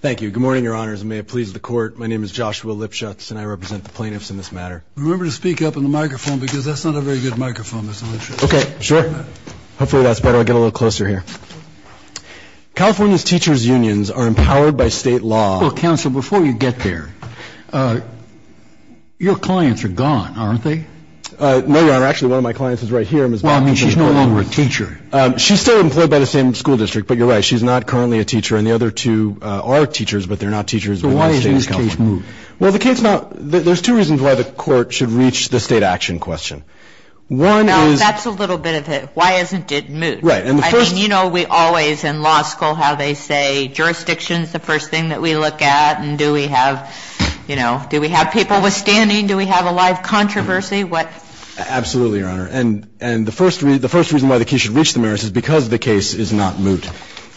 Thank you. Good morning, your honors, and may it please the court. My name is Joshua Lipschutz, and I represent the plaintiffs in this matter. Remember to speak up in the microphone, because that's not a very good microphone, Mr. Lipschutz. Okay. Sure. Hopefully that's better. I'll get a little closer here. California's teachers' unions are empowered by state law. Well, counsel, before you get there, your clients are gone, aren't they? No, your honor. Actually, one of my clients is right here. Well, I mean, she's no longer a teacher. She's still employed by the same school district, but you're right. She's not currently a teacher, and the other two are teachers, but they're not teachers within the state of California. So why hasn't this case moved? Well, the case not – there's two reasons why the court should reach the state action question. One is – Well, that's a little bit of it. Why hasn't it moved? Right. And the first – I mean, you know, we always, in law school, how they say jurisdiction is the first thing that we look at, and do we have – you know, do we have people withstanding? Do we have a live controversy? What – Absolutely, your honor. And the first reason why the case should reach the merits is because the case is not moved.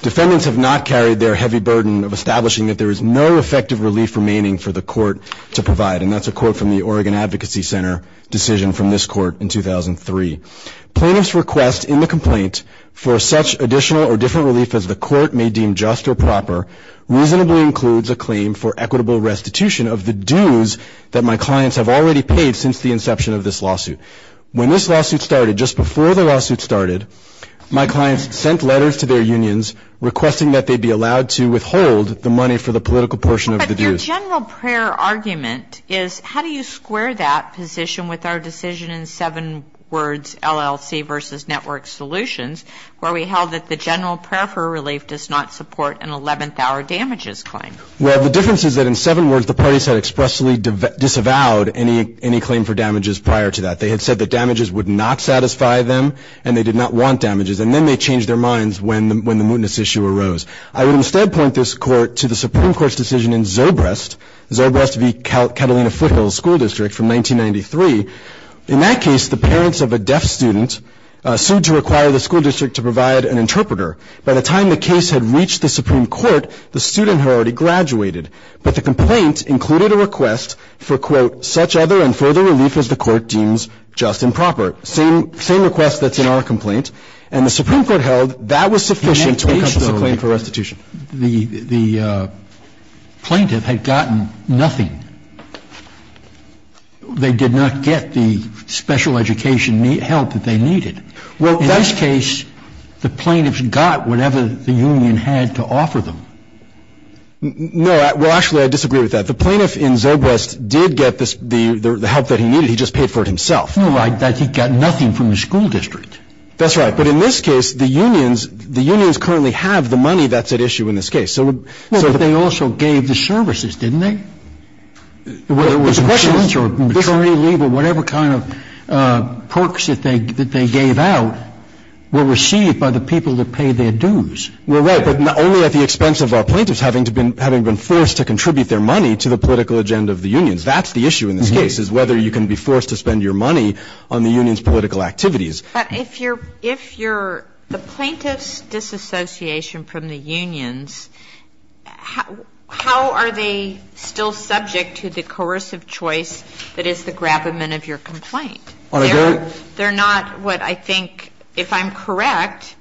Defendants have not carried their heavy burden of establishing that there is no effective relief remaining for the court to provide, and that's a quote from the Oregon Advocacy Center decision from this court in 2003. Plaintiff's request in the complaint for such additional or different relief as the court may deem just or proper reasonably includes a claim for equitable restitution of the dues that my clients have already paid since the inception of this lawsuit. When this lawsuit started, just before the lawsuit started, my clients sent letters to their unions requesting that they be allowed to withhold the money for the political portion of the dues. But your general prayer argument is how do you square that position with our decision in seven words, LLC versus Network Solutions, where we held that the general prayer for relief does not support an 11th-hour damages claim. Well, the difference is that in seven words, the parties had expressly disavowed any claim for damages prior to that. They had said that damages would not satisfy them, and they did not want damages. And then they changed their minds when the – when the mootness issue arose. I would instead point this court to the Supreme Court's decision in Zobrest, Zobrest v. Catalina Foothills School District from 1993. In that case, the parents of a deaf student sued to require the school district to provide an interpreter. By the time the case had reached the Supreme Court, the student had already graduated. But the complaint included a request for, quote, such other and further relief as the court deems just and proper, same request that's in our complaint. And the Supreme Court held that was sufficient to accomplish a claim for restitution. The plaintiff had gotten nothing. They did not get the special education help that they needed. In this case, the plaintiffs got whatever the union had to offer them. No. Well, actually, I disagree with that. The plaintiff in Zobrest did get the help that he needed. He just paid for it himself. No, he got nothing from the school district. That's right. But in this case, the unions, the unions currently have the money that's at issue in this case. So they also gave the services, didn't they? Whether it was insurance or maternity leave or whatever kind of perks that they gave out were received by the people that paid their dues. Well, right. But not only at the expense of our plaintiffs having been forced to contribute their money to the political agenda of the unions. That's the issue in this case is whether you can be forced to spend your money on the union's political activities. But if you're the plaintiff's disassociation from the unions, how are they still subject to the coercive choice that is the grapplement of your complaint? I agree. They're not what I think, if I'm correct,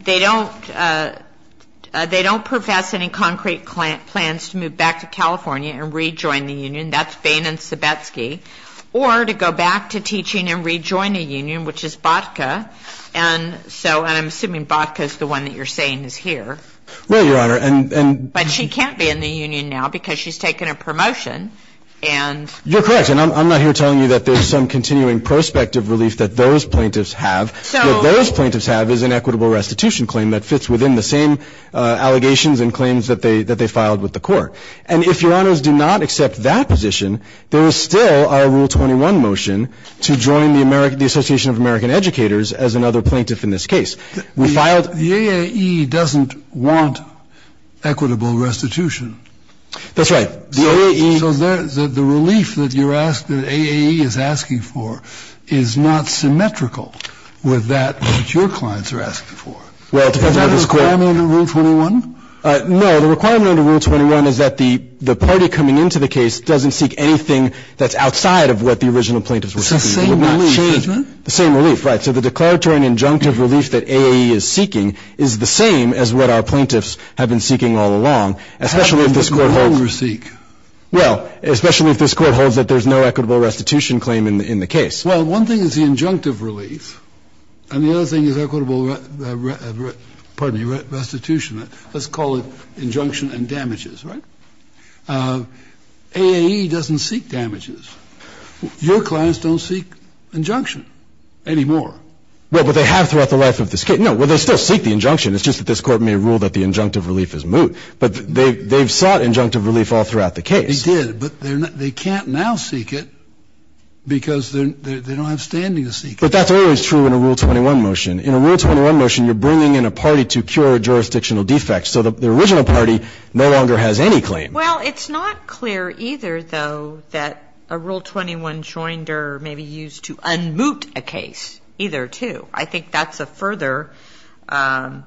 they don't profess any concrete plans to move back to California and rejoin the union. That's Bain and Zebetsky. Or to go back to teaching and rejoin a union, which is Botka. And so I'm assuming Botka is the one that you're saying is here. Well, Your Honor, and ‑‑ But she can't be in the union now because she's taken a promotion. And ‑‑ You're correct. And I'm not here telling you that there's some continuing prospective relief that those plaintiffs have. What those plaintiffs have is an equitable restitution claim that fits within the same allegations and claims that they filed with the court. And if Your Honors do not accept that position, there is still a Rule 21 motion to join the Association of American Educators as another plaintiff in this case. We filed ‑‑ The AAE doesn't want equitable restitution. That's right. The AAE ‑‑ So the relief that you're asking, that AAE is asking for, is not symmetrical with that which your clients are asking for. Is that a requirement under Rule 21? No. The requirement under Rule 21 is that the party coming into the case doesn't seek anything that's outside of what the original plaintiffs were seeking. It's the same relief. The same relief. Right. So the declaratory and injunctive relief that AAE is seeking is the same as what our plaintiffs have been seeking all along, especially if this court holds ‑‑ How does the court overseek? Well, especially if this court holds that there's no equitable restitution claim in the case. Well, one thing is the injunctive relief, and the other thing is equitable restitution. Let's call it injunction and damages. Right? AAE doesn't seek damages. Your clients don't seek injunction anymore. Well, but they have throughout the life of this case. No. Well, they still seek the injunction. It's just that this Court may rule that the injunctive relief is moot. But they've sought injunctive relief all throughout the case. They did. But they can't now seek it because they don't have standing to seek it. But that's always true in a Rule 21 motion. In a Rule 21 motion, you're bringing in a party to cure a jurisdictional defect, so the original party no longer has any claim. Well, it's not clear either, though, that a Rule 21 joinder may be used to unmoot a case. Either two. I think that's a further ‑‑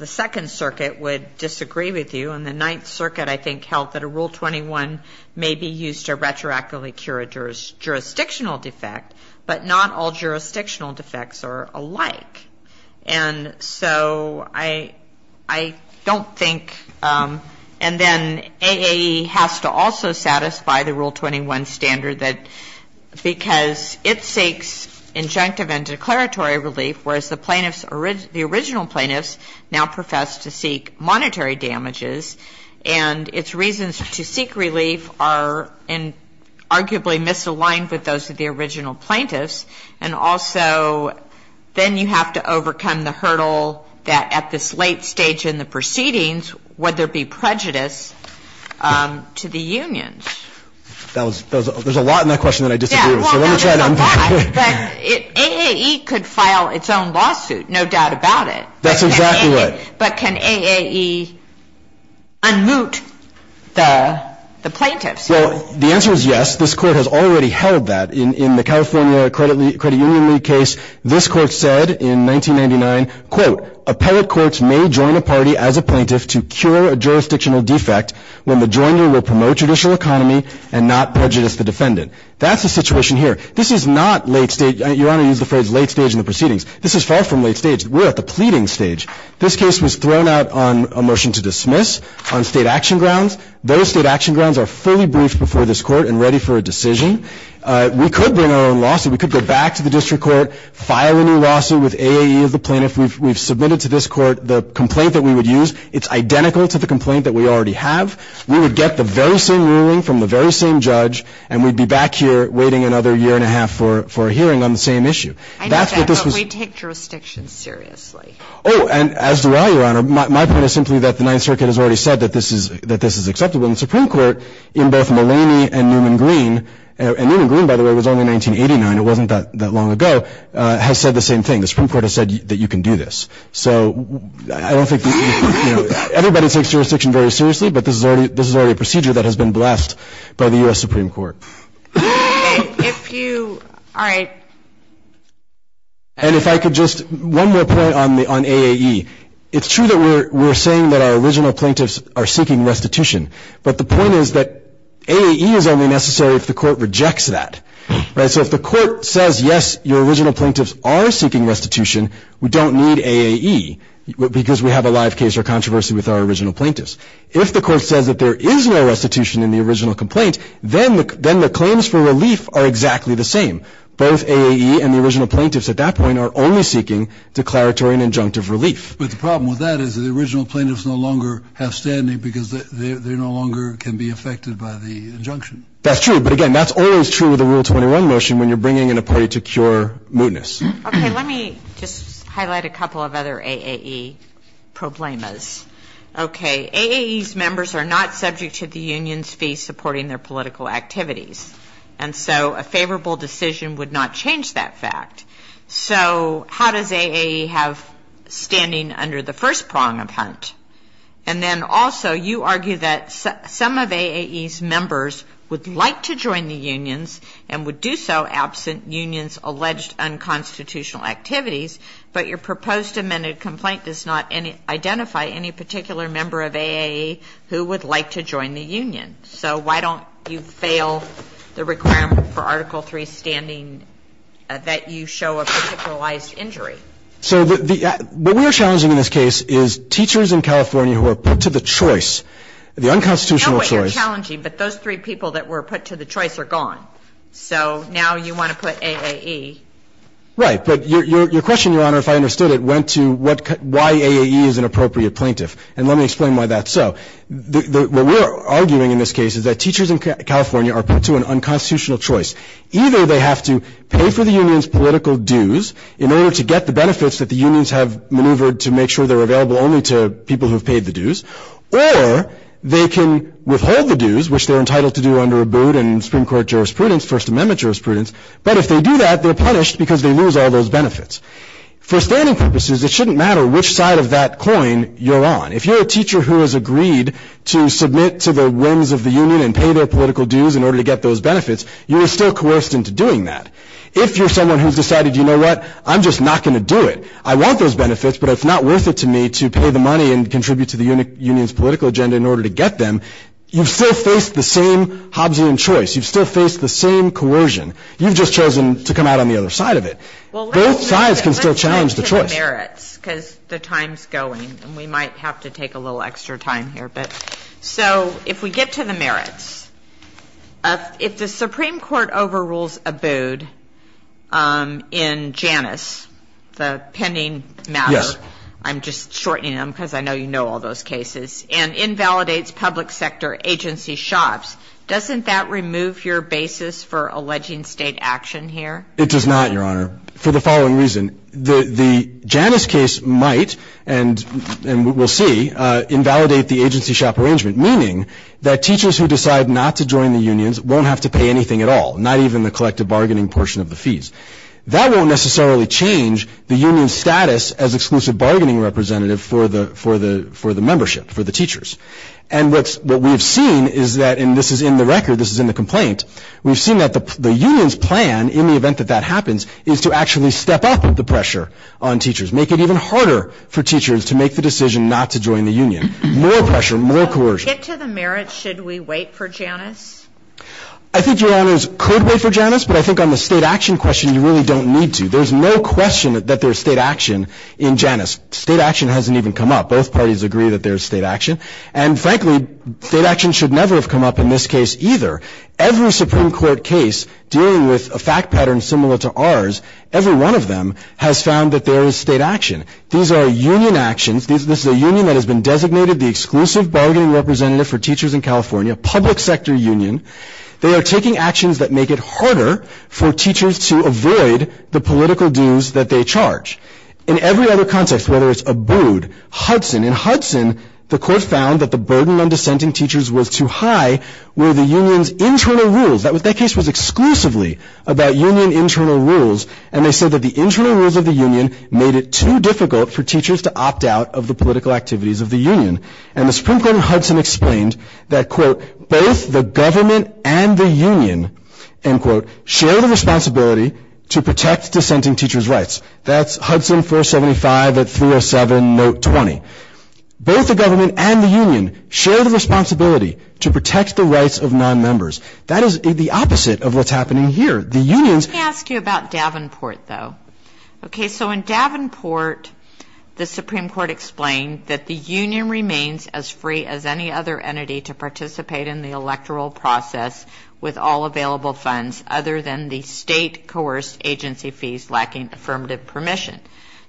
the Second Circuit would disagree with you. And the Ninth Circuit, I think, held that a Rule 21 may be used to retroactively cure a jurisdictional defect, but not all jurisdictional defects are alike. And so I don't think ‑‑ and then AAE has to also satisfy the Rule 21 standard that because it seeks injunctive and declaratory relief, whereas the plaintiffs ‑‑ the original plaintiffs now profess to seek monetary damages, and its reasons to seek relief are arguably misaligned with those of the original plaintiffs. And also, then you have to overcome the hurdle that at this late stage in the proceedings, would there be prejudice to the unions? There's a lot in that question that I disagree with. Yeah, well, there's a lot. But AAE could file its own lawsuit, no doubt about it. That's exactly right. But can AAE unmoot the plaintiffs? Well, the answer is yes. This Court has already held that. In the California Credit Union League case, this Court said in 1999, quote, appellate courts may join a party as a plaintiff to cure a jurisdictional defect when the joiner will promote judicial economy and not prejudice the defendant. That's the situation here. This is not late stage. Your Honor used the phrase late stage in the proceedings. This is far from late stage. We're at the pleading stage. This case was thrown out on a motion to dismiss on state action grounds. Those state action grounds are fully briefed before this Court and ready for a decision. We could bring our own lawsuit. We could go back to the district court, file a new lawsuit with AAE as the plaintiff. We've submitted to this Court the complaint that we would use. It's identical to the complaint that we already have. We would get the very same ruling from the very same judge, and we'd be back here waiting another year and a half for a hearing on the same issue. I know that, but we take jurisdictions seriously. Oh, and as do I, Your Honor. My point is simply that the Ninth Circuit has already said that this is acceptable. And the Supreme Court, in both Mulaney and Newman-Green, and Newman-Green, by the way, was only in 1989. It wasn't that long ago, has said the same thing. The Supreme Court has said that you can do this. So I don't think this is, you know, everybody takes jurisdiction very seriously, but this is already a procedure that has been blessed by the U.S. Supreme Court. If you, all right. And if I could just, one more point on AAE. It's true that we're saying that our original plaintiffs are seeking restitution, but the point is that AAE is only necessary if the Court rejects that. Right? So if the Court says, yes, your original plaintiffs are seeking restitution, we don't need AAE because we have a live case or controversy with our original plaintiffs. If the Court says that there is no restitution in the original complaint, then the claims for relief are exactly the same. Both AAE and the original plaintiffs at that point are only seeking declaratory and injunctive relief. But the problem with that is the original plaintiffs no longer have standing because they no longer can be affected by the injunction. That's true, but again, that's always true with a Rule 21 motion when you're bringing in a party to cure mootness. Okay. Let me just highlight a couple of other AAE problemas. Okay. AAE's members are not subject to the union's fee supporting their political activities. And so a favorable decision would not change that fact. So how does AAE have standing under the first prong of Hunt? And then also you argue that some of AAE's members would like to join the unions and would do so absent union's alleged unconstitutional activities, but your proposed amended complaint does not identify any particular member of AAE who would like to join the union. So why don't you fail the requirement for Article III standing that you show a particularized injury? So what we are challenging in this case is teachers in California who are put to the choice, the unconstitutional choice. I know what you're challenging, but those three people that were put to the choice are gone. So now you want to put AAE. Right. But your question, Your Honor, if I understood it, went to why AAE is an appropriate plaintiff. And let me explain why that's so. What we're arguing in this case is that teachers in California are put to an unconstitutional choice. Either they have to pay for the union's political dues in order to get the benefits that the unions have maneuvered to make sure they're available only to people who have paid the dues, or they can withhold the dues, which they're entitled to do under ABUD and Supreme Court jurisprudence, First Amendment jurisprudence. But if they do that, they're punished because they lose all those benefits. For standing purposes, it shouldn't matter which side of that coin you're on. If you're a teacher who has agreed to submit to the whims of the union and pay their political dues in order to get those benefits, you are still coerced into doing that. If you're someone who's decided, you know what, I'm just not going to do it. I want those benefits, but it's not worth it to me to pay the money and contribute to the union's political agenda in order to get them, you've still faced the same Hobbesian choice. You've still faced the same coercion. You've just chosen to come out on the other side of it. Both sides can still challenge the choice. If we get to the merits, because the time's going, and we might have to take a little extra time here. So if we get to the merits, if the Supreme Court overrules ABUD in Janus, the pending matter, I'm just shortening them because I know you know all those cases, and invalidates public sector agency shops, doesn't that remove your basis for alleging state action here? It does not, Your Honor, for the following reason. The Janus case might, and we'll see, invalidate the agency shop arrangement, meaning that teachers who decide not to join the unions won't have to pay anything at all, not even the collective bargaining portion of the fees. That won't necessarily change the union's status as exclusive bargaining representative for the membership, for the teachers. And what we've seen is that, and this is in the record, this is in the complaint, we've seen that the union's plan, in the event that that happens, is to actually step up the pressure on teachers, make it even harder for teachers to make the decision not to join the union. More pressure, more coercion. If we get to the merits, should we wait for Janus? I think Your Honors could wait for Janus, but I think on the state action question you really don't need to. There's no question that there's state action in Janus. State action hasn't even come up. Both parties agree that there's state action. And frankly, state action should never have come up in this case either. Every Supreme Court case dealing with a fact pattern similar to ours, every one of them has found that there is state action. These are union actions. This is a union that has been designated the exclusive bargaining representative for teachers in California, public sector union. They are taking actions that make it harder for teachers to avoid the political dues that they charge. In every other context, whether it's Abood, Hudson, in Hudson, the court found that the burden on dissenting teachers was too high, where the union's internal rules, that case was exclusively about union internal rules, and they said that the internal rules of the union made it too difficult for teachers to opt out of the political activities of the union. And the Supreme Court in Hudson explained that, quote, both the government and the union, end quote, share the responsibility to protect dissenting teachers' rights. That's Hudson 475 at 307, note 20. Both the government and the union share the responsibility to protect the rights of nonmembers. That is the opposite of what's happening here. The union's- Let me ask you about Davenport, though. Okay, so in Davenport, the Supreme Court explained that the union remains as free as any other entity to participate in the electoral process with all available funds other than the state-coerced agency fees lacking affirmative permission.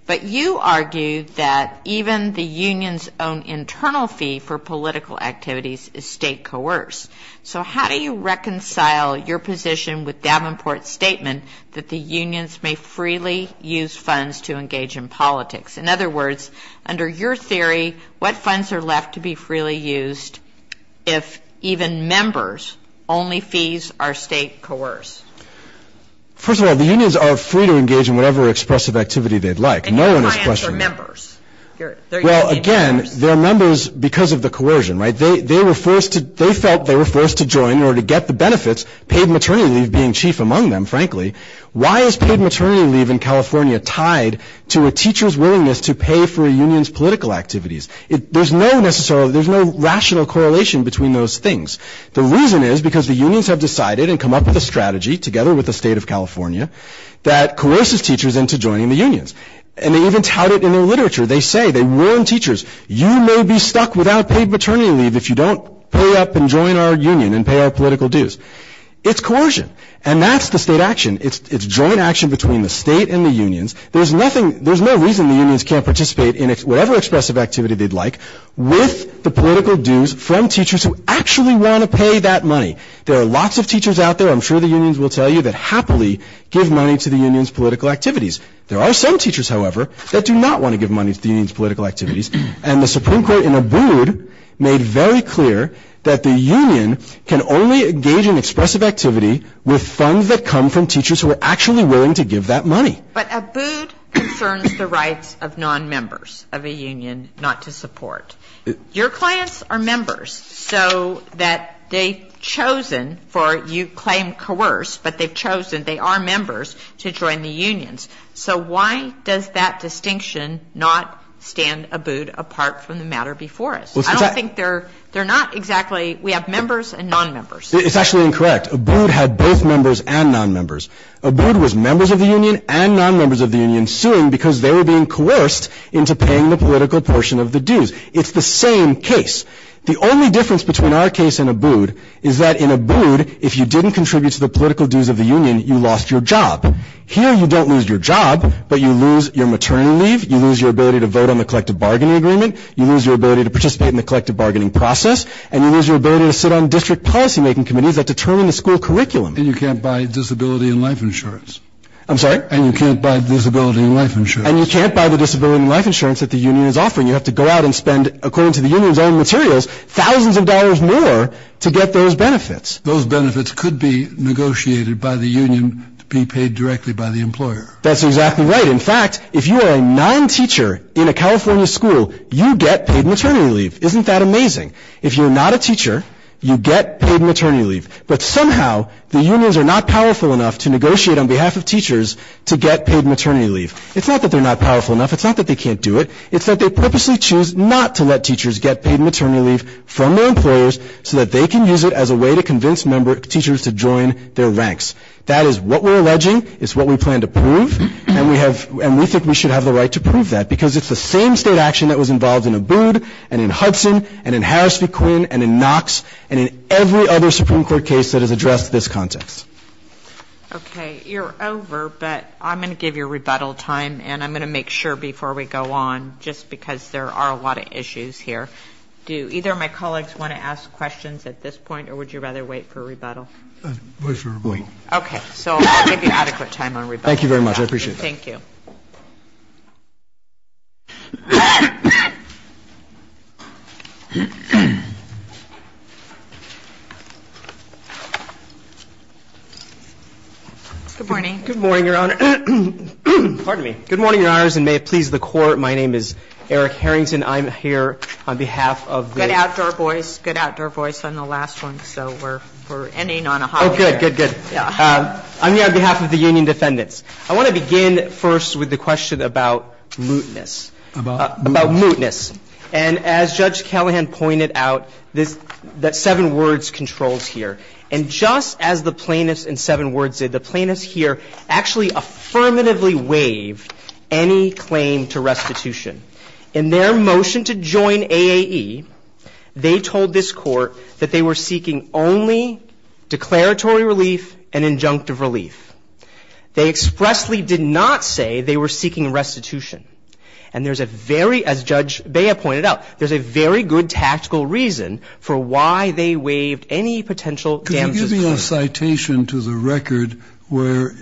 But you argue that even the union's own internal fee for political activities is state-coerced. So how do you reconcile your position with Davenport's statement that the unions may freely use funds to engage in politics? In other words, under your theory, what funds are left to be freely used if even members' only fees are state-coerced? First of all, the unions are free to engage in whatever expressive activity they'd like. And clients are members. Well, again, they're members because of the coercion, right? They felt they were forced to join in order to get the benefits, paid maternity leave being chief among them, frankly. Why is paid maternity leave in California tied to a teacher's willingness to pay for a union's political activities? There's no rational correlation between those things. The reason is because the unions have decided and come up with a strategy, together with the state of California, that coerces teachers into joining the unions. And they even tout it in their literature. They say, they warn teachers, you may be stuck without paid maternity leave if you don't pay up and join our union and pay our political dues. It's coercion. And that's the state action. It's joint action between the state and the unions. There's no reason the unions can't participate in whatever expressive activity they'd like with the political dues from teachers who actually want to pay that money. There are lots of teachers out there, I'm sure the unions will tell you, that happily give money to the union's political activities. There are some teachers, however, that do not want to give money to the union's political activities. And the Supreme Court in Abood made very clear that the union can only engage in expressive activity with funds that come from teachers who are actually willing to give that money. But Abood concerns the rights of nonmembers of a union not to support. Your clients are members, so that they've chosen for you claim coerce, but they've chosen, they are members, to join the unions. So why does that distinction not stand Abood apart from the matter before us? I don't think they're not exactly we have members and nonmembers. It's actually incorrect. Abood had both members and nonmembers. Abood was members of the union and nonmembers of the union suing because they were being coerced into paying the political portion of the dues. It's the same case. The only difference between our case and Abood is that in Abood, if you didn't contribute to the political dues of the union, you lost your job. Here you don't lose your job, but you lose your maternity leave, you lose your ability to vote on the collective bargaining agreement, you lose your ability to participate in the collective bargaining process, and you lose your ability to sit on district policymaking committees that determine the school curriculum. And you can't buy disability and life insurance. I'm sorry? And you can't buy disability and life insurance. And you can't buy the disability and life insurance that the union is offering. You have to go out and spend, according to the union's own materials, thousands of dollars more to get those benefits. Those benefits could be negotiated by the union to be paid directly by the employer. That's exactly right. In fact, if you are a non-teacher in a California school, you get paid maternity leave. Isn't that amazing? If you're not a teacher, you get paid maternity leave. But somehow the unions are not powerful enough to negotiate on behalf of teachers to get paid maternity leave. It's not that they're not powerful enough. It's not that they can't do it. It's that they purposely choose not to let teachers get paid maternity leave from their employers so that they can use it as a way to convince teachers to join their ranks. That is what we're alleging. It's what we plan to prove. And we think we should have the right to prove that, because it's the same state action that was involved in Abood and in Hudson and in Harris v. Quinn and in Knox and in every other Supreme Court case that has addressed this context. Okay. You're over, but I'm going to give you rebuttal time, and I'm going to make sure before we go on, just because there are a lot of issues here. Do either of my colleagues want to ask questions at this point, or would you rather wait for rebuttal? Wait for rebuttal. Okay. So I'll give you adequate time on rebuttal. Thank you very much. I appreciate that. Thank you. Good morning. Good morning, Your Honor. Pardon me. Good morning, Your Honors, and may it please the Court. My name is Eric Harrington. I'm here on behalf of the ---- Good outdoor voice. Good outdoor voice on the last one. So we're ending on a high note. Oh, good, good, good. I want to begin, first of all, by thanking you for your time. I want to begin, of course, with the question about mootness. About mootness. And as Judge Callahan pointed out, that seven words controls here. And just as the plaintiffs in seven words did, the plaintiffs here actually affirmatively waived any claim to restitution. In their motion to join AAE, they told this Court that they were seeking only declaratory relief and injunctive relief. They expressly did not say they were seeking restitution. And there's a very, as Judge Bea pointed out, there's a very good tactical reason for why they waived any potential damages. Could you give me a citation to the record where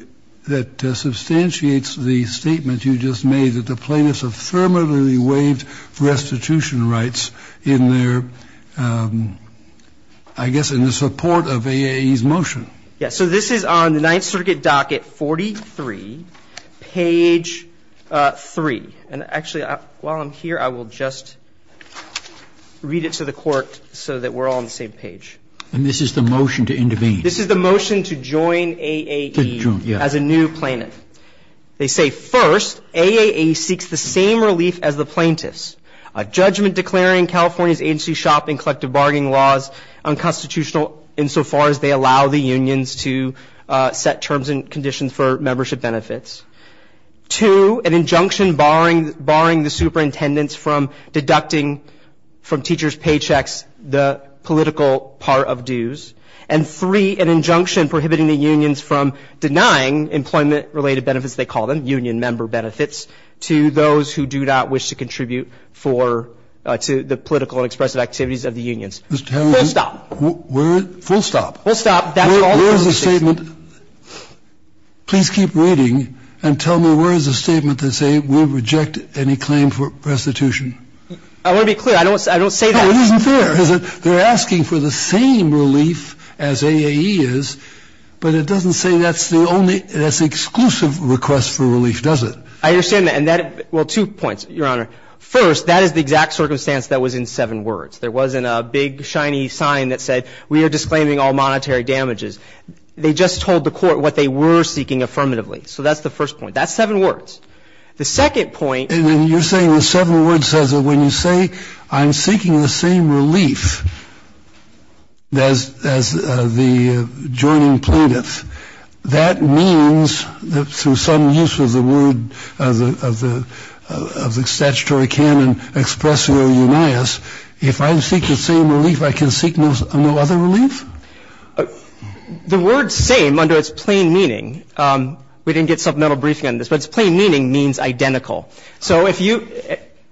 that substantiates the statement you just made, that the plaintiffs affirmatively waived restitution rights in their, I guess, in the support of AAE's motion. Yes, so this is on the Ninth Circuit docket 43, page 3. And actually, while I'm here, I will just read it to the Court so that we're all on the same page. And this is the motion to intervene. This is the motion to join AAE as a new plaintiff. They say, first, AAE seeks the same relief as the plaintiffs. A judgment declaring California's agency shop and collective bargaining laws unconstitutional insofar as they allow the unions to set terms and conditions for membership benefits. Two, an injunction barring the superintendents from deducting from teachers' paychecks the political part of dues. And three, an injunction prohibiting the unions from denying employment-related benefits, they call them, union member benefits, to those who do not wish to contribute for, to the political and expressive activities of the unions. Full stop. Where? Full stop. Full stop. Where is the statement? Please keep reading and tell me where is the statement that say we reject any claim for restitution? I want to be clear. I don't say that. No, it isn't fair. They're asking for the same relief as AAE is, but it doesn't say that's the only, that's the exclusive request for relief, does it? I understand that. And that, well, two points, Your Honor. First, that is the exact circumstance that was in seven words. There wasn't a big shiny sign that said we are disclaiming all monetary damages. They just told the Court what they were seeking affirmatively. So that's the first point. That's seven words. The second point — And then you're saying the seven words says that when you say I'm seeking the same relief as the joining plaintiffs, that means that through some use of the word, of the statutory canon expressio unias, if I seek the same relief, I can seek no other relief? The word same under its plain meaning, we didn't get supplemental briefing on this, but its plain meaning means identical. So if you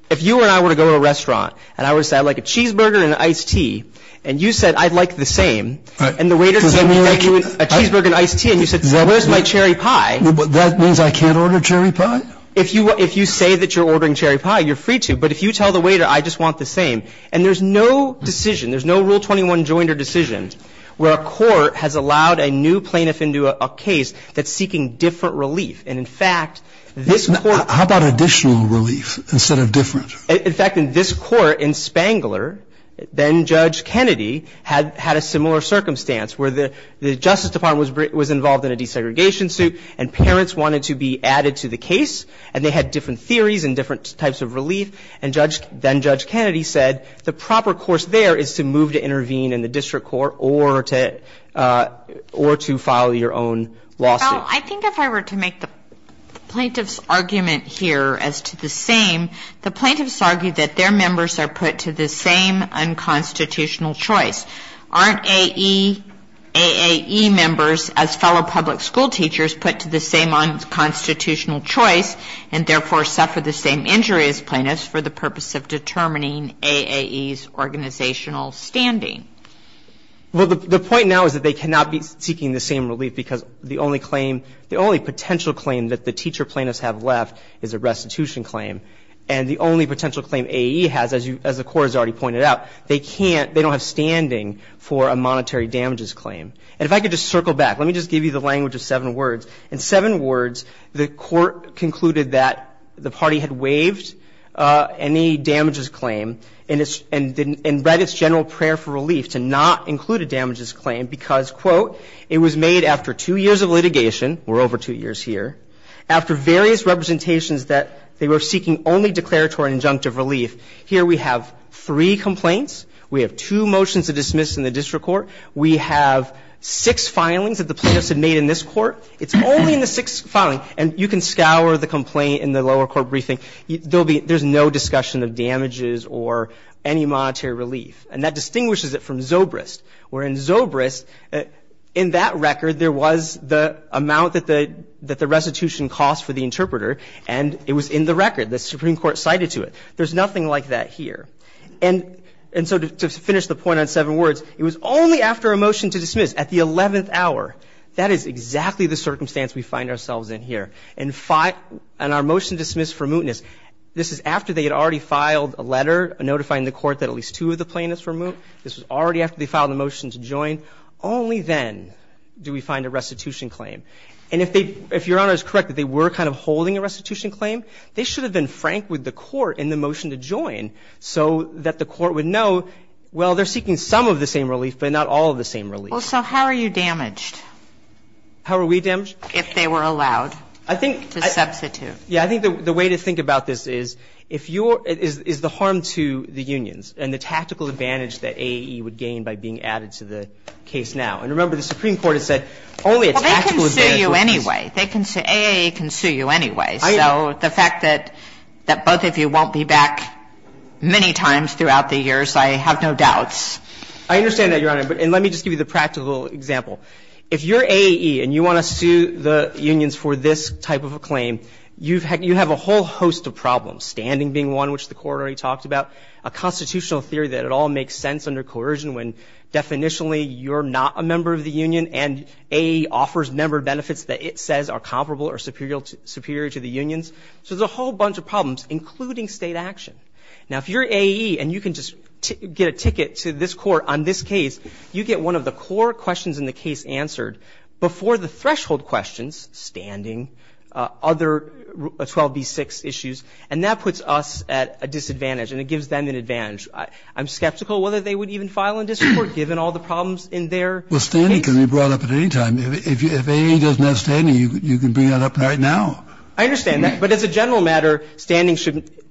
and I were to go to a restaurant and I were to say I'd like a cheeseburger and an iced tea, and you said I'd like the same, and the waiter said I'd like you a cheeseburger and iced tea, and you said where's my cherry pie? That means I can't order cherry pie? If you say that you're ordering cherry pie, you're free to. But if you tell the waiter I just want the same. And there's no decision, there's no Rule 21 jointer decision where a court has allowed a new plaintiff into a case that's seeking different relief. And, in fact, this court — How about additional relief instead of different? In fact, in this court in Spangler, then Judge Kennedy had a similar circumstance where the Justice Department was involved in a desegregation suit and parents wanted to be added to the case and they had different theories and different types of relief, and then Judge Kennedy said the proper course there is to move to intervene in the district court or to file your own lawsuit. Well, I think if I were to make the plaintiff's argument here as to the same, the plaintiffs argue that their members are put to the same unconstitutional choice. Aren't A.A.E. members, as fellow public school teachers, put to the same unconstitutional choice and therefore suffer the same injury as plaintiffs for the purpose of determining A.A.E.'s organizational standing? Well, the point now is that they cannot be seeking the same relief because the only claim — the only potential claim that the teacher plaintiffs have left is a restitution claim. And the only potential claim A.A.E. has, as the Court has already pointed out, they can't — they don't have standing for a monetary damages claim. And if I could just circle back, let me just give you the language of seven words. In seven words, the Court concluded that the party had waived any damages claim and read its general prayer for relief to not include a damages claim because, quote, it was made after two years of litigation. We're over two years here. After various representations that they were seeking only declaratory and injunctive relief. Here we have three complaints. We have two motions of dismissal in the district court. We have six filings that the plaintiffs have made in this court. It's only in the sixth filing. And you can scour the complaint in the lower court briefing. There's no discussion of damages or any monetary relief. And that distinguishes it from Zobrist. Where in Zobrist, in that record, there was the amount that the restitution cost for the interpreter, and it was in the record. The Supreme Court cited to it. There's nothing like that here. And so to finish the point on seven words, it was only after a motion to dismiss at the 11th hour. That is exactly the circumstance we find ourselves in here. And our motion to dismiss for mootness, this is after they had already filed a letter notifying the court that at least two of the plaintiffs were moot. This was already after they filed a motion to join. Only then do we find a restitution claim. And if they – if Your Honor is correct that they were kind of holding a restitution claim, they should have been frank with the court in the motion to join so that the court would know, well, they're seeking some of the same relief, but not all of the same relief. Kagan. Well, so how are you damaged? How are we damaged? If they were allowed to substitute. Yeah. I think the way to think about this is if you're – is the harm to the unions and the tactical advantage that AAE would gain by being added to the case now. And remember, the Supreme Court has said only a tactical advantage. Well, they can sue you anyway. AAE can sue you anyway. So the fact that both of you won't be back many times throughout the years, I have no doubts. I understand that, Your Honor. And let me just give you the practical example. If you're AAE and you want to sue the unions for this type of a claim, you have a whole host of problems, standing being one, which the Court already talked about, a constitutional theory that it all makes sense under coercion when, definitionally, you're not a member of the union and AAE offers member benefits that it says are comparable or superior to the unions. So there's a whole bunch of problems, including State action. Now, if you're AAE and you can just get a ticket to this Court on this case, you get one of the core questions in the case answered before the threshold questions, standing, other 12b-6 issues. And that puts us at a disadvantage, and it gives them an advantage. I'm skeptical whether they would even file in this Court, given all the problems in their case. Well, standing can be brought up at any time. If AAE doesn't have standing, you can bring that up right now. I understand that. But as a general matter, standing shouldn't be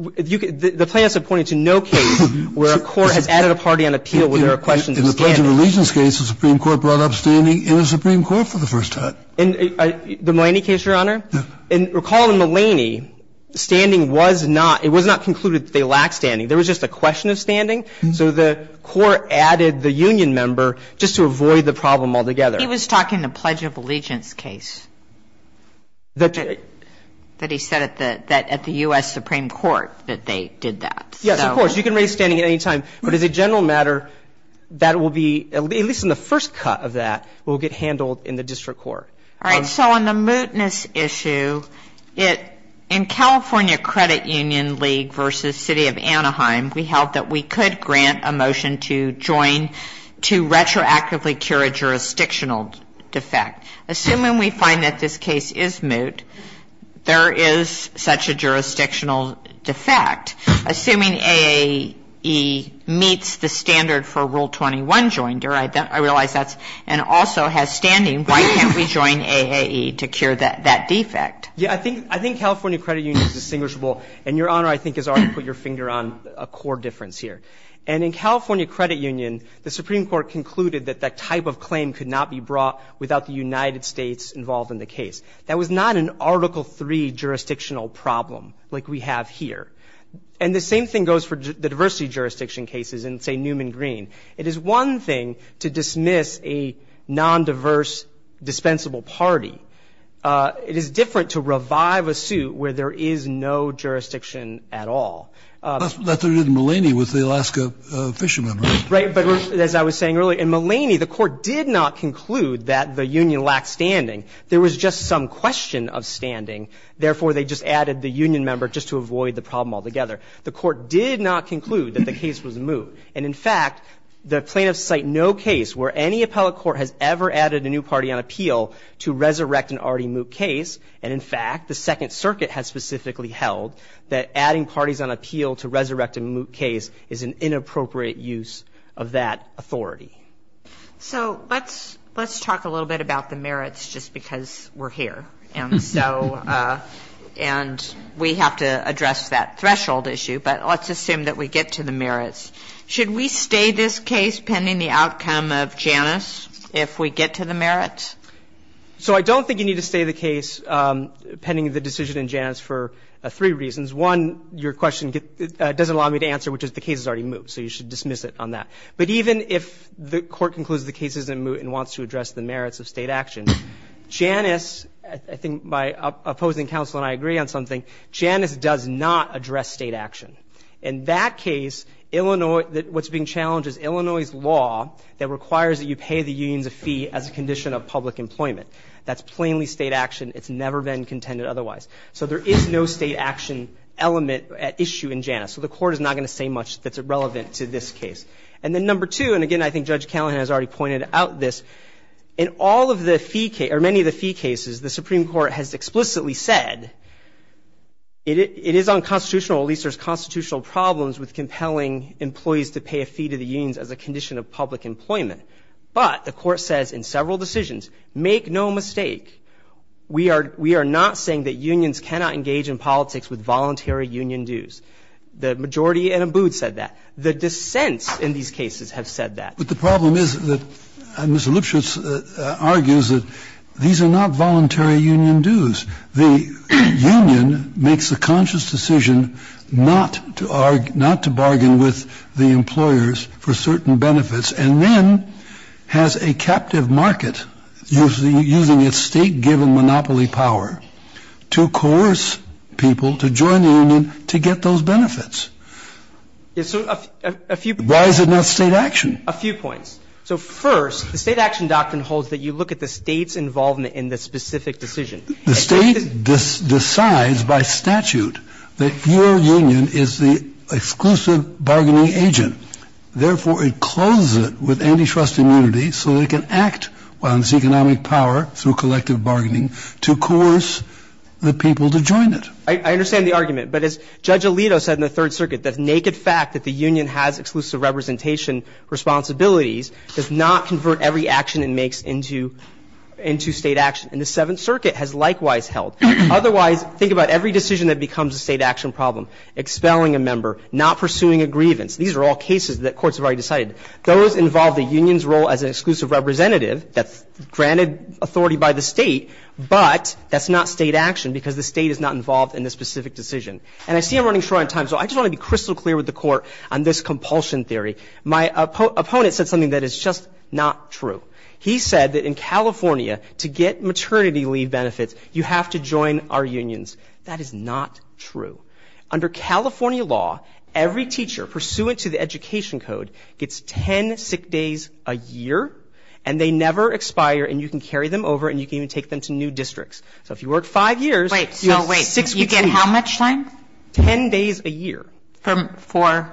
---- the plaintiffs have pointed to no case where a court has added a party on appeal where there are questions of standing. In the Pledge of Allegiance case, the Supreme Court brought up standing in the Supreme Court for the first time. In the Mulaney case, Your Honor? Yes. And recall in Mulaney, standing was not ---- it was not concluded that they lacked standing. There was just a question of standing. So the Court added the union member just to avoid the problem altogether. He was talking the Pledge of Allegiance case that he said at the U.S. Supreme Court that they did that. Yes, of course. You can raise standing at any time. But as a general matter, that will be, at least in the first cut of that, will get handled in the district court. All right. So on the mootness issue, in California Credit Union League v. City of Anaheim, we held that we could grant a motion to join to retroactively cure a jurisdictional defect. Assuming we find that this case is moot, there is such a jurisdictional defect. Assuming AAE meets the standard for Rule 21 joinder, I realize that's ---- and also has standing, why can't we join AAE to cure that defect? Yeah. I think California Credit Union is distinguishable. And, Your Honor, I think has already put your finger on a core difference here. And in California Credit Union, the Supreme Court concluded that that type of claim could not be brought without the United States involved in the case. That was not an Article III jurisdictional problem like we have here. And the same thing goes for the diversity jurisdiction cases in, say, Newman Green. It is one thing to dismiss a nondiverse, dispensable party. It is different to revive a suit where there is no jurisdiction at all. That's what they did in Mulaney with the Alaska fishermen, right? Right. But as I was saying earlier, in Mulaney, the Court did not conclude that the union lacked standing. There was just some question of standing. Therefore, they just added the union member just to avoid the problem altogether. The Court did not conclude that the case was moot. And, in fact, the plaintiffs cite no case where any appellate court has ever added a new party on appeal to resurrect an already moot case. And, in fact, the Second Circuit has specifically held that adding parties on appeal to resurrect a moot case is an inappropriate use of that authority. So let's talk a little bit about the merits just because we're here. And so we have to address that threshold issue. But let's assume that we get to the merits. Should we stay this case pending the outcome of Janus if we get to the merits? So I don't think you need to stay the case pending the decision in Janus for three reasons. One, your question doesn't allow me to answer, which is the case is already moot, so you should dismiss it on that. But even if the Court concludes the case isn't moot and wants to address the merits of State action, Janus, I think my opposing counsel and I agree on something, Janus does not address State action. In that case, Illinois, what's being challenged is Illinois' law that requires that you pay the unions a fee as a condition of public employment. That's plainly State action. It's never been contended otherwise. So there is no State action element at issue in Janus. So the Court is not going to say much that's relevant to this case. And then number two, and again I think Judge Callahan has already pointed out this, in all of the fee cases, or many of the fee cases, the Supreme Court has explicitly said it is unconstitutional, at least there's constitutional problems with compelling employees to pay a fee to the unions as a condition of public employment. But the Court says in several decisions, make no mistake, we are not saying that unions cannot engage in politics with voluntary union dues. The majority in Abood said that. The dissents in these cases have said that. But the problem is that Mr. Lipschitz argues that these are not voluntary union dues. The union makes a conscious decision not to bargain with the employers for certain benefits and then has a captive market using its State-given monopoly power to coerce people to join the union to get those benefits. Why is it not State action? A few points. So first, the State action doctrine holds that you look at the State's involvement in the specific decision. The State decides by statute that your union is the exclusive bargaining agent. Therefore, it closes it with antitrust immunity so it can act on its economic power through collective bargaining to coerce the people to join it. I understand the argument. But as Judge Alito said in the Third Circuit, the naked fact that the union has exclusive representation responsibilities does not convert every action it makes into State action. And the Seventh Circuit has likewise held. Otherwise, think about every decision that becomes a State action problem, expelling a member, not pursuing a grievance. These are all cases that courts have already decided. Those involve the union's role as an exclusive representative that's granted authority by the State, but that's not State action because the State is not involved in the specific decision. And I see I'm running short on time, so I just want to be crystal clear with the Court on this compulsion theory. My opponent said something that is just not true. He said that in California, to get maternity leave benefits, you have to join our unions. That is not true. Under California law, every teacher pursuant to the Education Code gets ten sick days a year, and they never expire, and you can carry them over and you can even take them to new districts. So if you work five years, you have six weeks off. So wait. You get how much time? Ten days a year. For?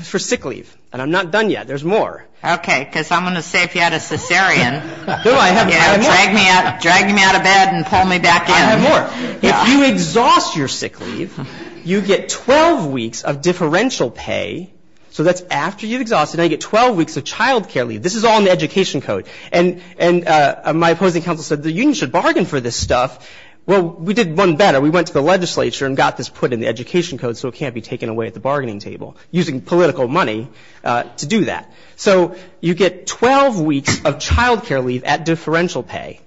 For sick leave. And I'm not done yet. There's more. Okay. Because I'm going to say if you had a cesarean, you know, drag me out of bed and pull me back in. I have more. If you exhaust your sick leave, you get 12 weeks of differential pay, so that's after you exhaust it, and I get 12 weeks of child care leave. This is all in the Education Code. And my opposing counsel said the union should bargain for this stuff. Well, we did one better. We went to the legislature and got this put in the Education Code so it can't be taken away at the bargaining table, using political money to do that. So you get 12 weeks of child care leave at differential pay,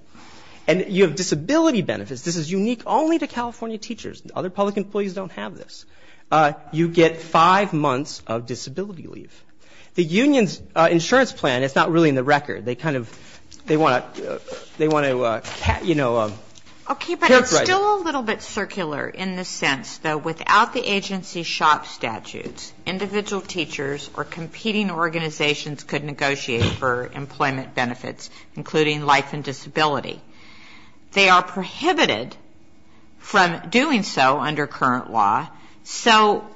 and you have disability benefits. This is unique only to California teachers. Other public employees don't have this. You get five months of disability leave. The union's insurance plan is not really in the record. They kind of they want to characterize it. Okay, but it's still a little bit circular in the sense, though, without the agency shop statutes, individual teachers or competing organizations could negotiate for employment benefits, including life and disability. They are prohibited from doing so under current law. So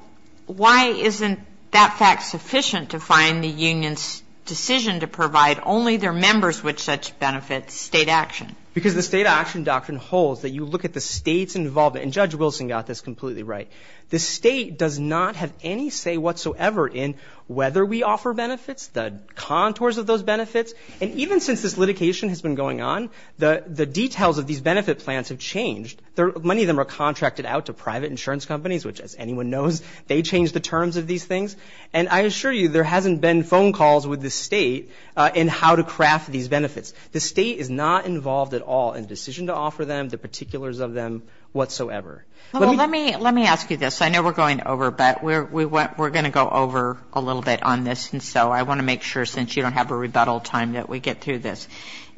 why isn't that fact sufficient to find the union's decision to provide only their members with such benefits state action? Because the state action doctrine holds that you look at the state's involvement. And Judge Wilson got this completely right. The state does not have any say whatsoever in whether we offer benefits, the contours of those benefits. And even since this litigation has been going on, the details of these benefit plans have changed. Many of them are contracted out to private insurance companies, which, as anyone knows, they change the terms of these things. And I assure you there hasn't been phone calls with the state in how to craft these benefits. The state is not involved at all in the decision to offer them, the particulars of them whatsoever. Let me ask you this. I know we're going over, but we're going to go over a little bit on this. And so I want to make sure, since you don't have a rebuttal time, that we get through this.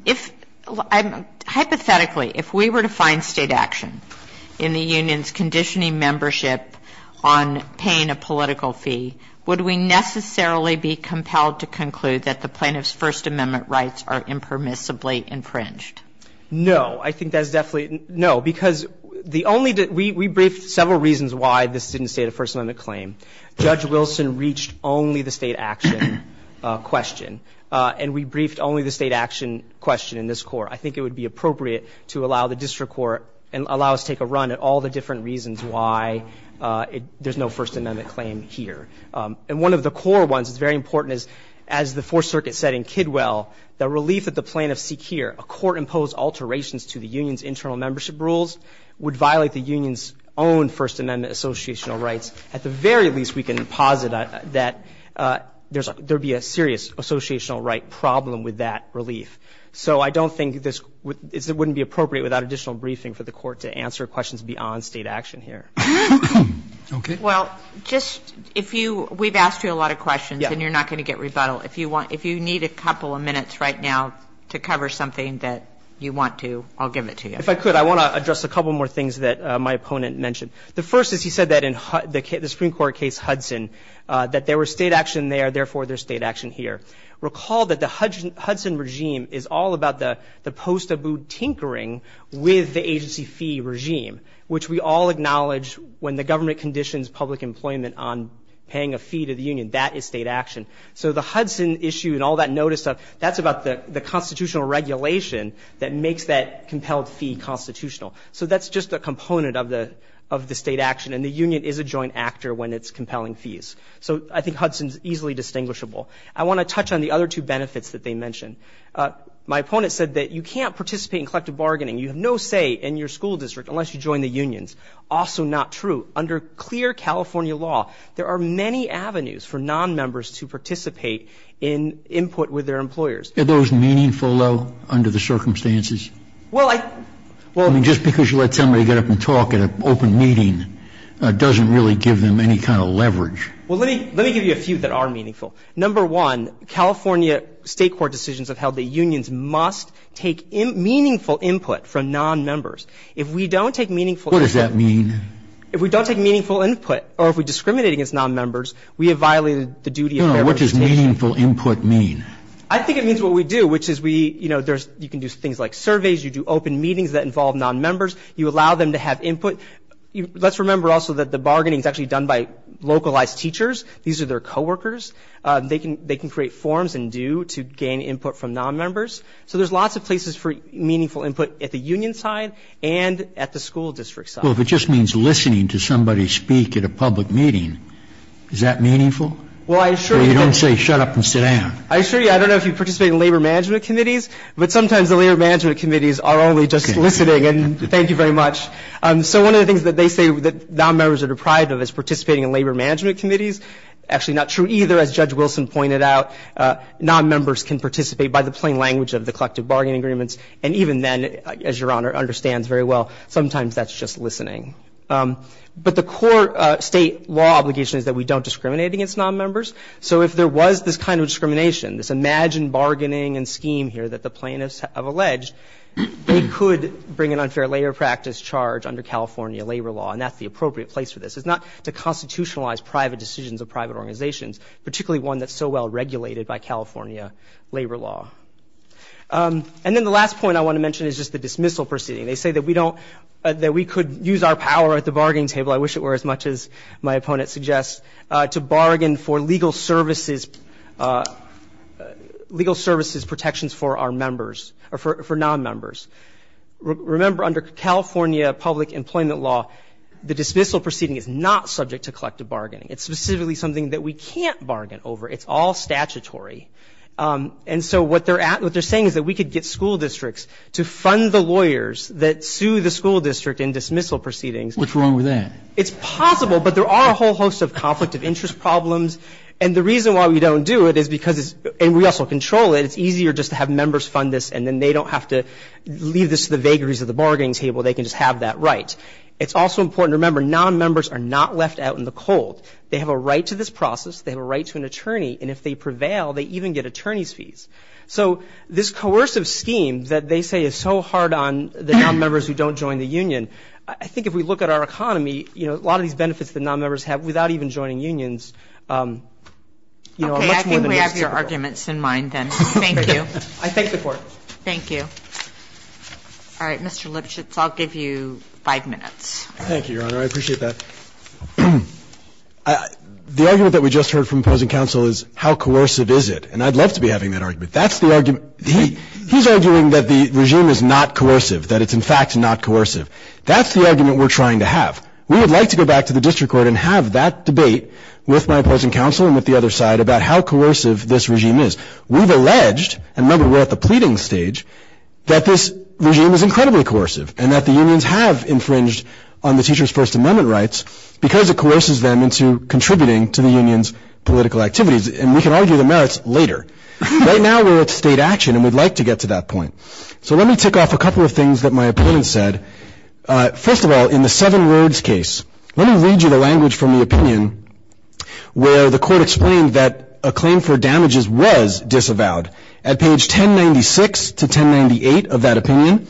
If I'm ‑‑ hypothetically, if we were to find state action in the union's conditioning membership on paying a political fee, would we necessarily be compelled to conclude that the plaintiff's First Amendment rights are impermissibly infringed? No. I think that's definitely ‑‑ no. Because the only ‑‑ we briefed several reasons why this didn't state a First Amendment claim. Judge Wilson reached only the state action question. And we briefed only the state action question in this court. I think it would be appropriate to allow the district court and allow us to take a run at all the different reasons why there's no First Amendment claim here. And one of the core ones that's very important is, as the Fourth Circuit said in Kidwell, the relief that the plaintiffs seek here, a court imposed alterations to the union's internal membership rules, would violate the union's own First Amendment associational rights. At the very least, we can posit that there would be a serious associational right problem with that relief. So I don't think this ‑‑ it wouldn't be appropriate without additional briefing for the court to answer questions beyond state action here. Okay. Well, just if you ‑‑ we've asked you a lot of questions, and you're not going to get rebuttal. If you want ‑‑ if you need a couple of minutes right now to cover something that you want to, I'll give it to you. If I could, I want to address a couple more things that my opponent mentioned. The first is he said that in the Supreme Court case Hudson, that there was state action there, therefore there's state action here. Recall that the Hudson regime is all about the post‑Abood tinkering with the agency fee regime, which we all acknowledge when the government conditions public employment on paying a fee to the union, that is state action. So the Hudson issue and all that notice stuff, that's about the constitutional regulation that makes that compelled fee constitutional. So that's just a component of the state action, and the union is a joint actor when it's compelling fees. So I think Hudson's easily distinguishable. I want to touch on the other two benefits that they mentioned. My opponent said that you can't participate in collective bargaining. You have no say in your school district unless you join the unions. Also not true. Under clear California law, there are many avenues for nonmembers to participate in input with their employers. Are those meaningful, though, under the circumstances? Well, I ‑‑ I mean, just because you let somebody get up and talk at an open meeting doesn't really give them any kind of leverage. Well, let me give you a few that are meaningful. Number one, California state court decisions have held that unions must take meaningful input from nonmembers. If we don't take meaningful input ‑‑ What does that mean? If we don't take meaningful input or if we discriminate against nonmembers, we have violated the duty of fair participation. No, what does meaningful input mean? I think it means what we do, which is we, you know, you can do things like surveys, you do open meetings that involve nonmembers, you allow them to have input. Let's remember also that the bargaining is actually done by localized teachers. These are their coworkers. They can create forms and due to gain input from nonmembers. So there's lots of places for meaningful input at the union side and at the school district side. Well, if it just means listening to somebody speak at a public meeting, is that meaningful? Well, I assure you ‑‑ Or you don't say shut up and sit down. I assure you, I don't know if you participate in labor management committees, but sometimes the labor management committees are only just listening. And thank you very much. So one of the things that they say that nonmembers are deprived of is participating in labor management committees. Actually, not true either. As Judge Wilson pointed out, nonmembers can participate by the plain language of the collective bargaining agreements and even then, as Your Honor understands very well, sometimes that's just listening. But the core state law obligation is that we don't discriminate against nonmembers. So if there was this kind of discrimination, this imagined bargaining and scheme here that the plaintiffs have alleged, they could bring an unfair labor practice charge under California labor law and that's the appropriate place for this. It's not to constitutionalize private decisions of private organizations, particularly one that's so well regulated by California labor law. And then the last point I want to mention is just the dismissal proceeding. They say that we could use our power at the bargaining table, I wish it were as much as my opponent suggests, to bargain for legal services protections for our members, for nonmembers. Remember, under California public employment law, the dismissal proceeding is not subject to collective bargaining. It's specifically something that we can't bargain over. It's all statutory. And so what they're saying is that we could get school districts to fund the lawyers that sue the school district in dismissal proceedings. What's wrong with that? It's possible, but there are a whole host of conflict of interest problems. And the reason why we don't do it is because it's – and we also control it. It's easier just to have members fund this and then they don't have to leave this to the vagaries of the bargaining table. They can just have that right. It's also important to remember, nonmembers are not left out in the cold. They have a right to this process. They have a right to an attorney. And if they prevail, they even get attorney's fees. So this coercive scheme that they say is so hard on the nonmembers who don't join the union, I think if we look at our economy, you know, a lot of these benefits that nonmembers have without even joining unions are much more than most people. Okay. I think we have your arguments in mind then. Thank you. I thank the Court. Thank you. All right, Mr. Lipchitz, I'll give you five minutes. Thank you, Your Honor. I appreciate that. The argument that we just heard from opposing counsel is how coercive is it? And I'd love to be having that argument. That's the argument – he's arguing that the regime is not coercive, that it's in fact not coercive. That's the argument we're trying to have. We would like to go back to the district court and have that debate with my opposing counsel and with the other side about how coercive this regime is. We've alleged, and remember we're at the pleading stage, that this regime is incredibly coercive and that the unions have infringed on the teachers' First Amendment rights because it coerces them into contributing to the union's political activities. And we can argue the merits later. Right now we're at state action and we'd like to get to that point. So let me tick off a couple of things that my opponent said. First of all, in the seven words case, let me read you the language from the opinion where the court explained that a claim for damages was disavowed. At page 1096-1098 of that opinion,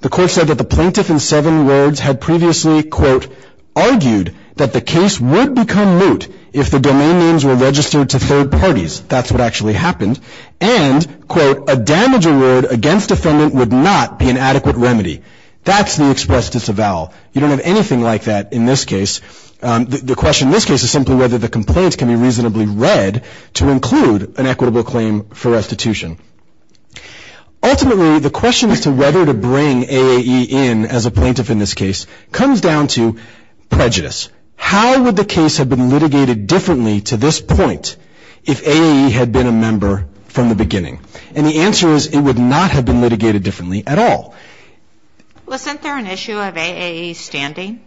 the court said that the plaintiff in seven words had previously, quote, argued that the case would become moot if the domain names were registered to third parties. That's what actually happened. And, quote, a damage award against defendant would not be an adequate remedy. That's the express disavowal. You don't have anything like that in this case. The question in this case is simply whether the complaints can be reasonably read to include an equitable claim for restitution. Ultimately, the question as to whether to bring AAE in as a plaintiff in this case comes down to prejudice. How would the case have been litigated differently to this point if AAE had been a member from the beginning? And the answer is it would not have been litigated differently at all. Wasn't there an issue of AAE's standing?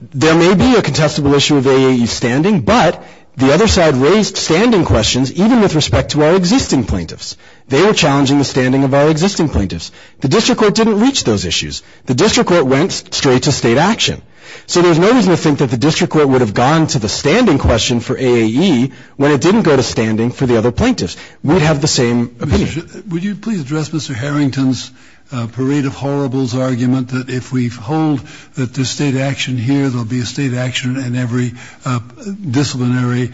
There may be a contestable issue of AAE's standing, but the other side raised standing questions even with respect to our existing plaintiffs. They were challenging the standing of our existing plaintiffs. The district court didn't reach those issues. The district court went straight to state action. So there's no reason to think that the district court would have gone to the standing question for AAE when it didn't go to standing for the other plaintiffs. We'd have the same opinion. Would you please address Mr. Harrington's Parade of Horribles argument that if we hold that there's state action here, there'll be a state action in every disciplinary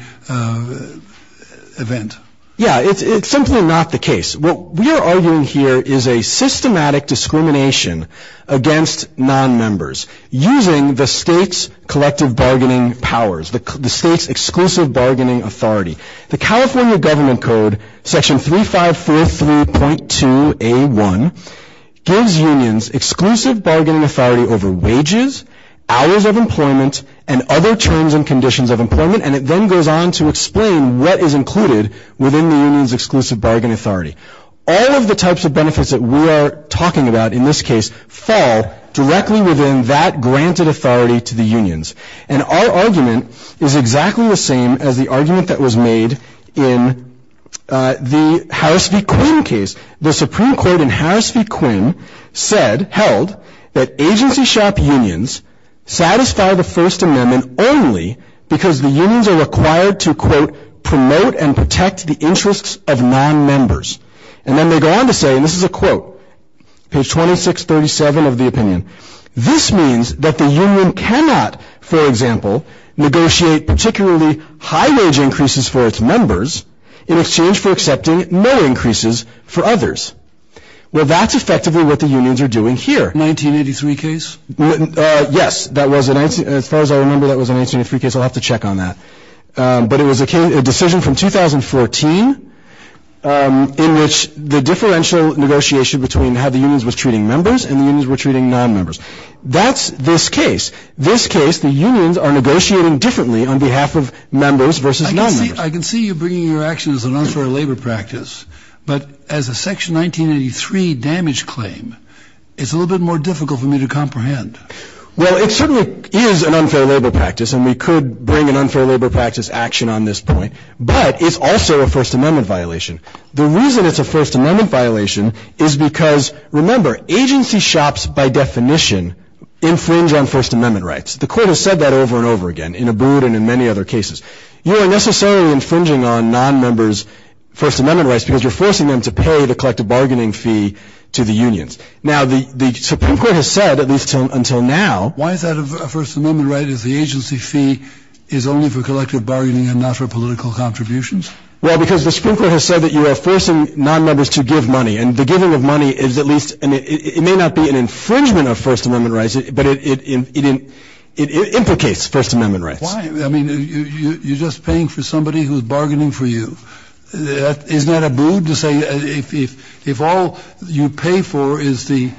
event? Yeah, it's simply not the case. What we are arguing here is a systematic discrimination against nonmembers using the state's collective bargaining powers, the state's exclusive bargaining authority. The California Government Code, Section 3543.2A1, gives unions exclusive bargaining authority over wages, hours of employment, and other terms and conditions of employment, and it then goes on to explain what is included within the union's exclusive bargaining authority. All of the types of benefits that we are talking about in this case and our argument is exactly the same as the argument that was made in the Harris v. Quinn case. The Supreme Court in Harris v. Quinn said, held, that agency shop unions satisfy the First Amendment only because the unions are required to, quote, promote and protect the interests of nonmembers. And then they go on to say, and this is a quote, page 2637 of the opinion, this means that the union cannot, for example, negotiate particularly high-wage increases for its members in exchange for accepting low increases for others. Well, that's effectively what the unions are doing here. 1983 case? Yes, as far as I remember, that was a 1983 case. I'll have to check on that. But it was a decision from 2014 in which the differential negotiation between how the unions were treating members and the unions were treating nonmembers. That's this case. This case, the unions are negotiating differently on behalf of members versus nonmembers. I can see you bringing your action as an unfair labor practice, but as a Section 1983 damage claim, it's a little bit more difficult for me to comprehend. Well, it certainly is an unfair labor practice, and we could bring an unfair labor practice action on this point, but it's also a First Amendment violation. The reason it's a First Amendment violation is because, remember, agency shops, by definition, infringe on First Amendment rights. The Court has said that over and over again in Abood and in many other cases. You are necessarily infringing on nonmembers' First Amendment rights because you're forcing them to pay the collective bargaining fee to the unions. Now, the Supreme Court has said, at least until now— Why is that a First Amendment right if the agency fee is only for collective bargaining and not for political contributions? Well, because the Supreme Court has said that you are forcing nonmembers to give money, and the giving of money is at least—it may not be an infringement of First Amendment rights, but it implicates First Amendment rights. Why? I mean, you're just paying for somebody who's bargaining for you. Isn't that Abood to say if all you pay for is the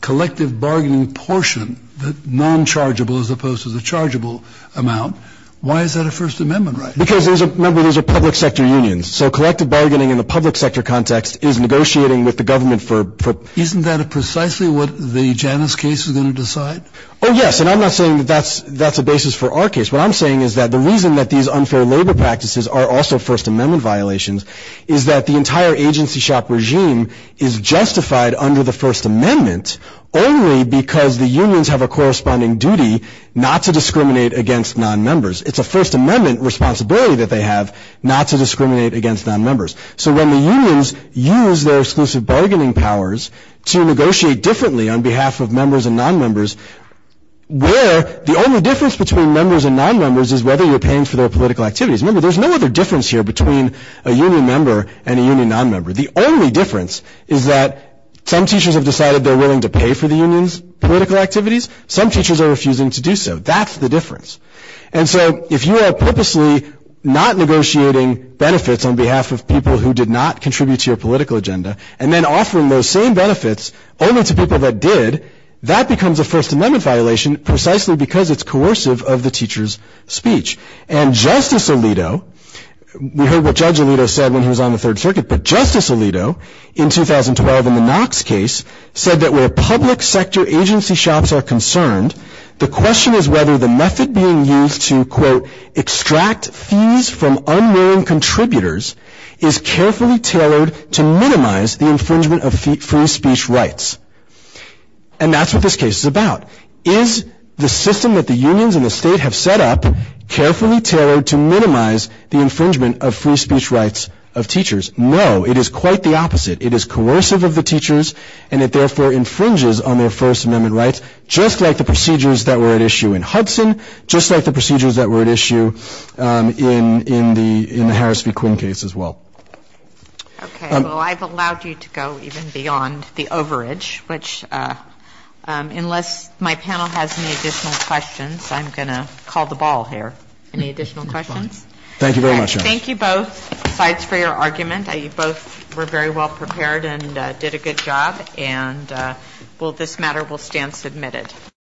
collective bargaining portion, the nonchargeable as opposed to the chargeable amount, why is that a First Amendment right? Because, remember, those are public sector unions, so collective bargaining in the public sector context is negotiating with the government for— Isn't that precisely what the Janus case is going to decide? Oh, yes, and I'm not saying that that's a basis for our case. What I'm saying is that the reason that these unfair labor practices are also First Amendment violations is that the entire agency shop regime is justified under the First Amendment only because the unions have a corresponding duty not to discriminate against nonmembers. It's a First Amendment responsibility that they have not to discriminate against nonmembers. So when the unions use their exclusive bargaining powers to negotiate differently on behalf of members and nonmembers, where the only difference between members and nonmembers is whether you're paying for their political activities. Remember, there's no other difference here between a union member and a union nonmember. The only difference is that some teachers have decided they're willing to pay for the union's political activities. Some teachers are refusing to do so. That's the difference. And so if you are purposely not negotiating benefits on behalf of people who did not contribute to your political agenda and then offering those same benefits only to people that did, that becomes a First Amendment violation precisely because it's coercive of the teacher's speech. And Justice Alito, we heard what Judge Alito said when he was on the Third Circuit, but Justice Alito in 2012 in the Knox case said that where public sector agency shops are concerned, the question is whether the method being used to, quote, extract fees from unwilling contributors is carefully tailored to minimize the infringement of free speech rights. And that's what this case is about. Is the system that the unions and the state have set up carefully tailored to minimize the infringement of free speech rights of teachers? No, it is quite the opposite. It is coercive of the teachers, and it therefore infringes on their First Amendment rights, just like the procedures that were at issue in Hudson, just like the procedures that were at issue in the Harris v. Quinn case as well. Okay, well, I've allowed you to go even beyond the overage, which unless my panel has any additional questions, I'm going to call the ball here. Any additional questions? Thank you very much. Thank you both, besides for your argument. You both were very well prepared and did a good job. And this matter will stand submitted.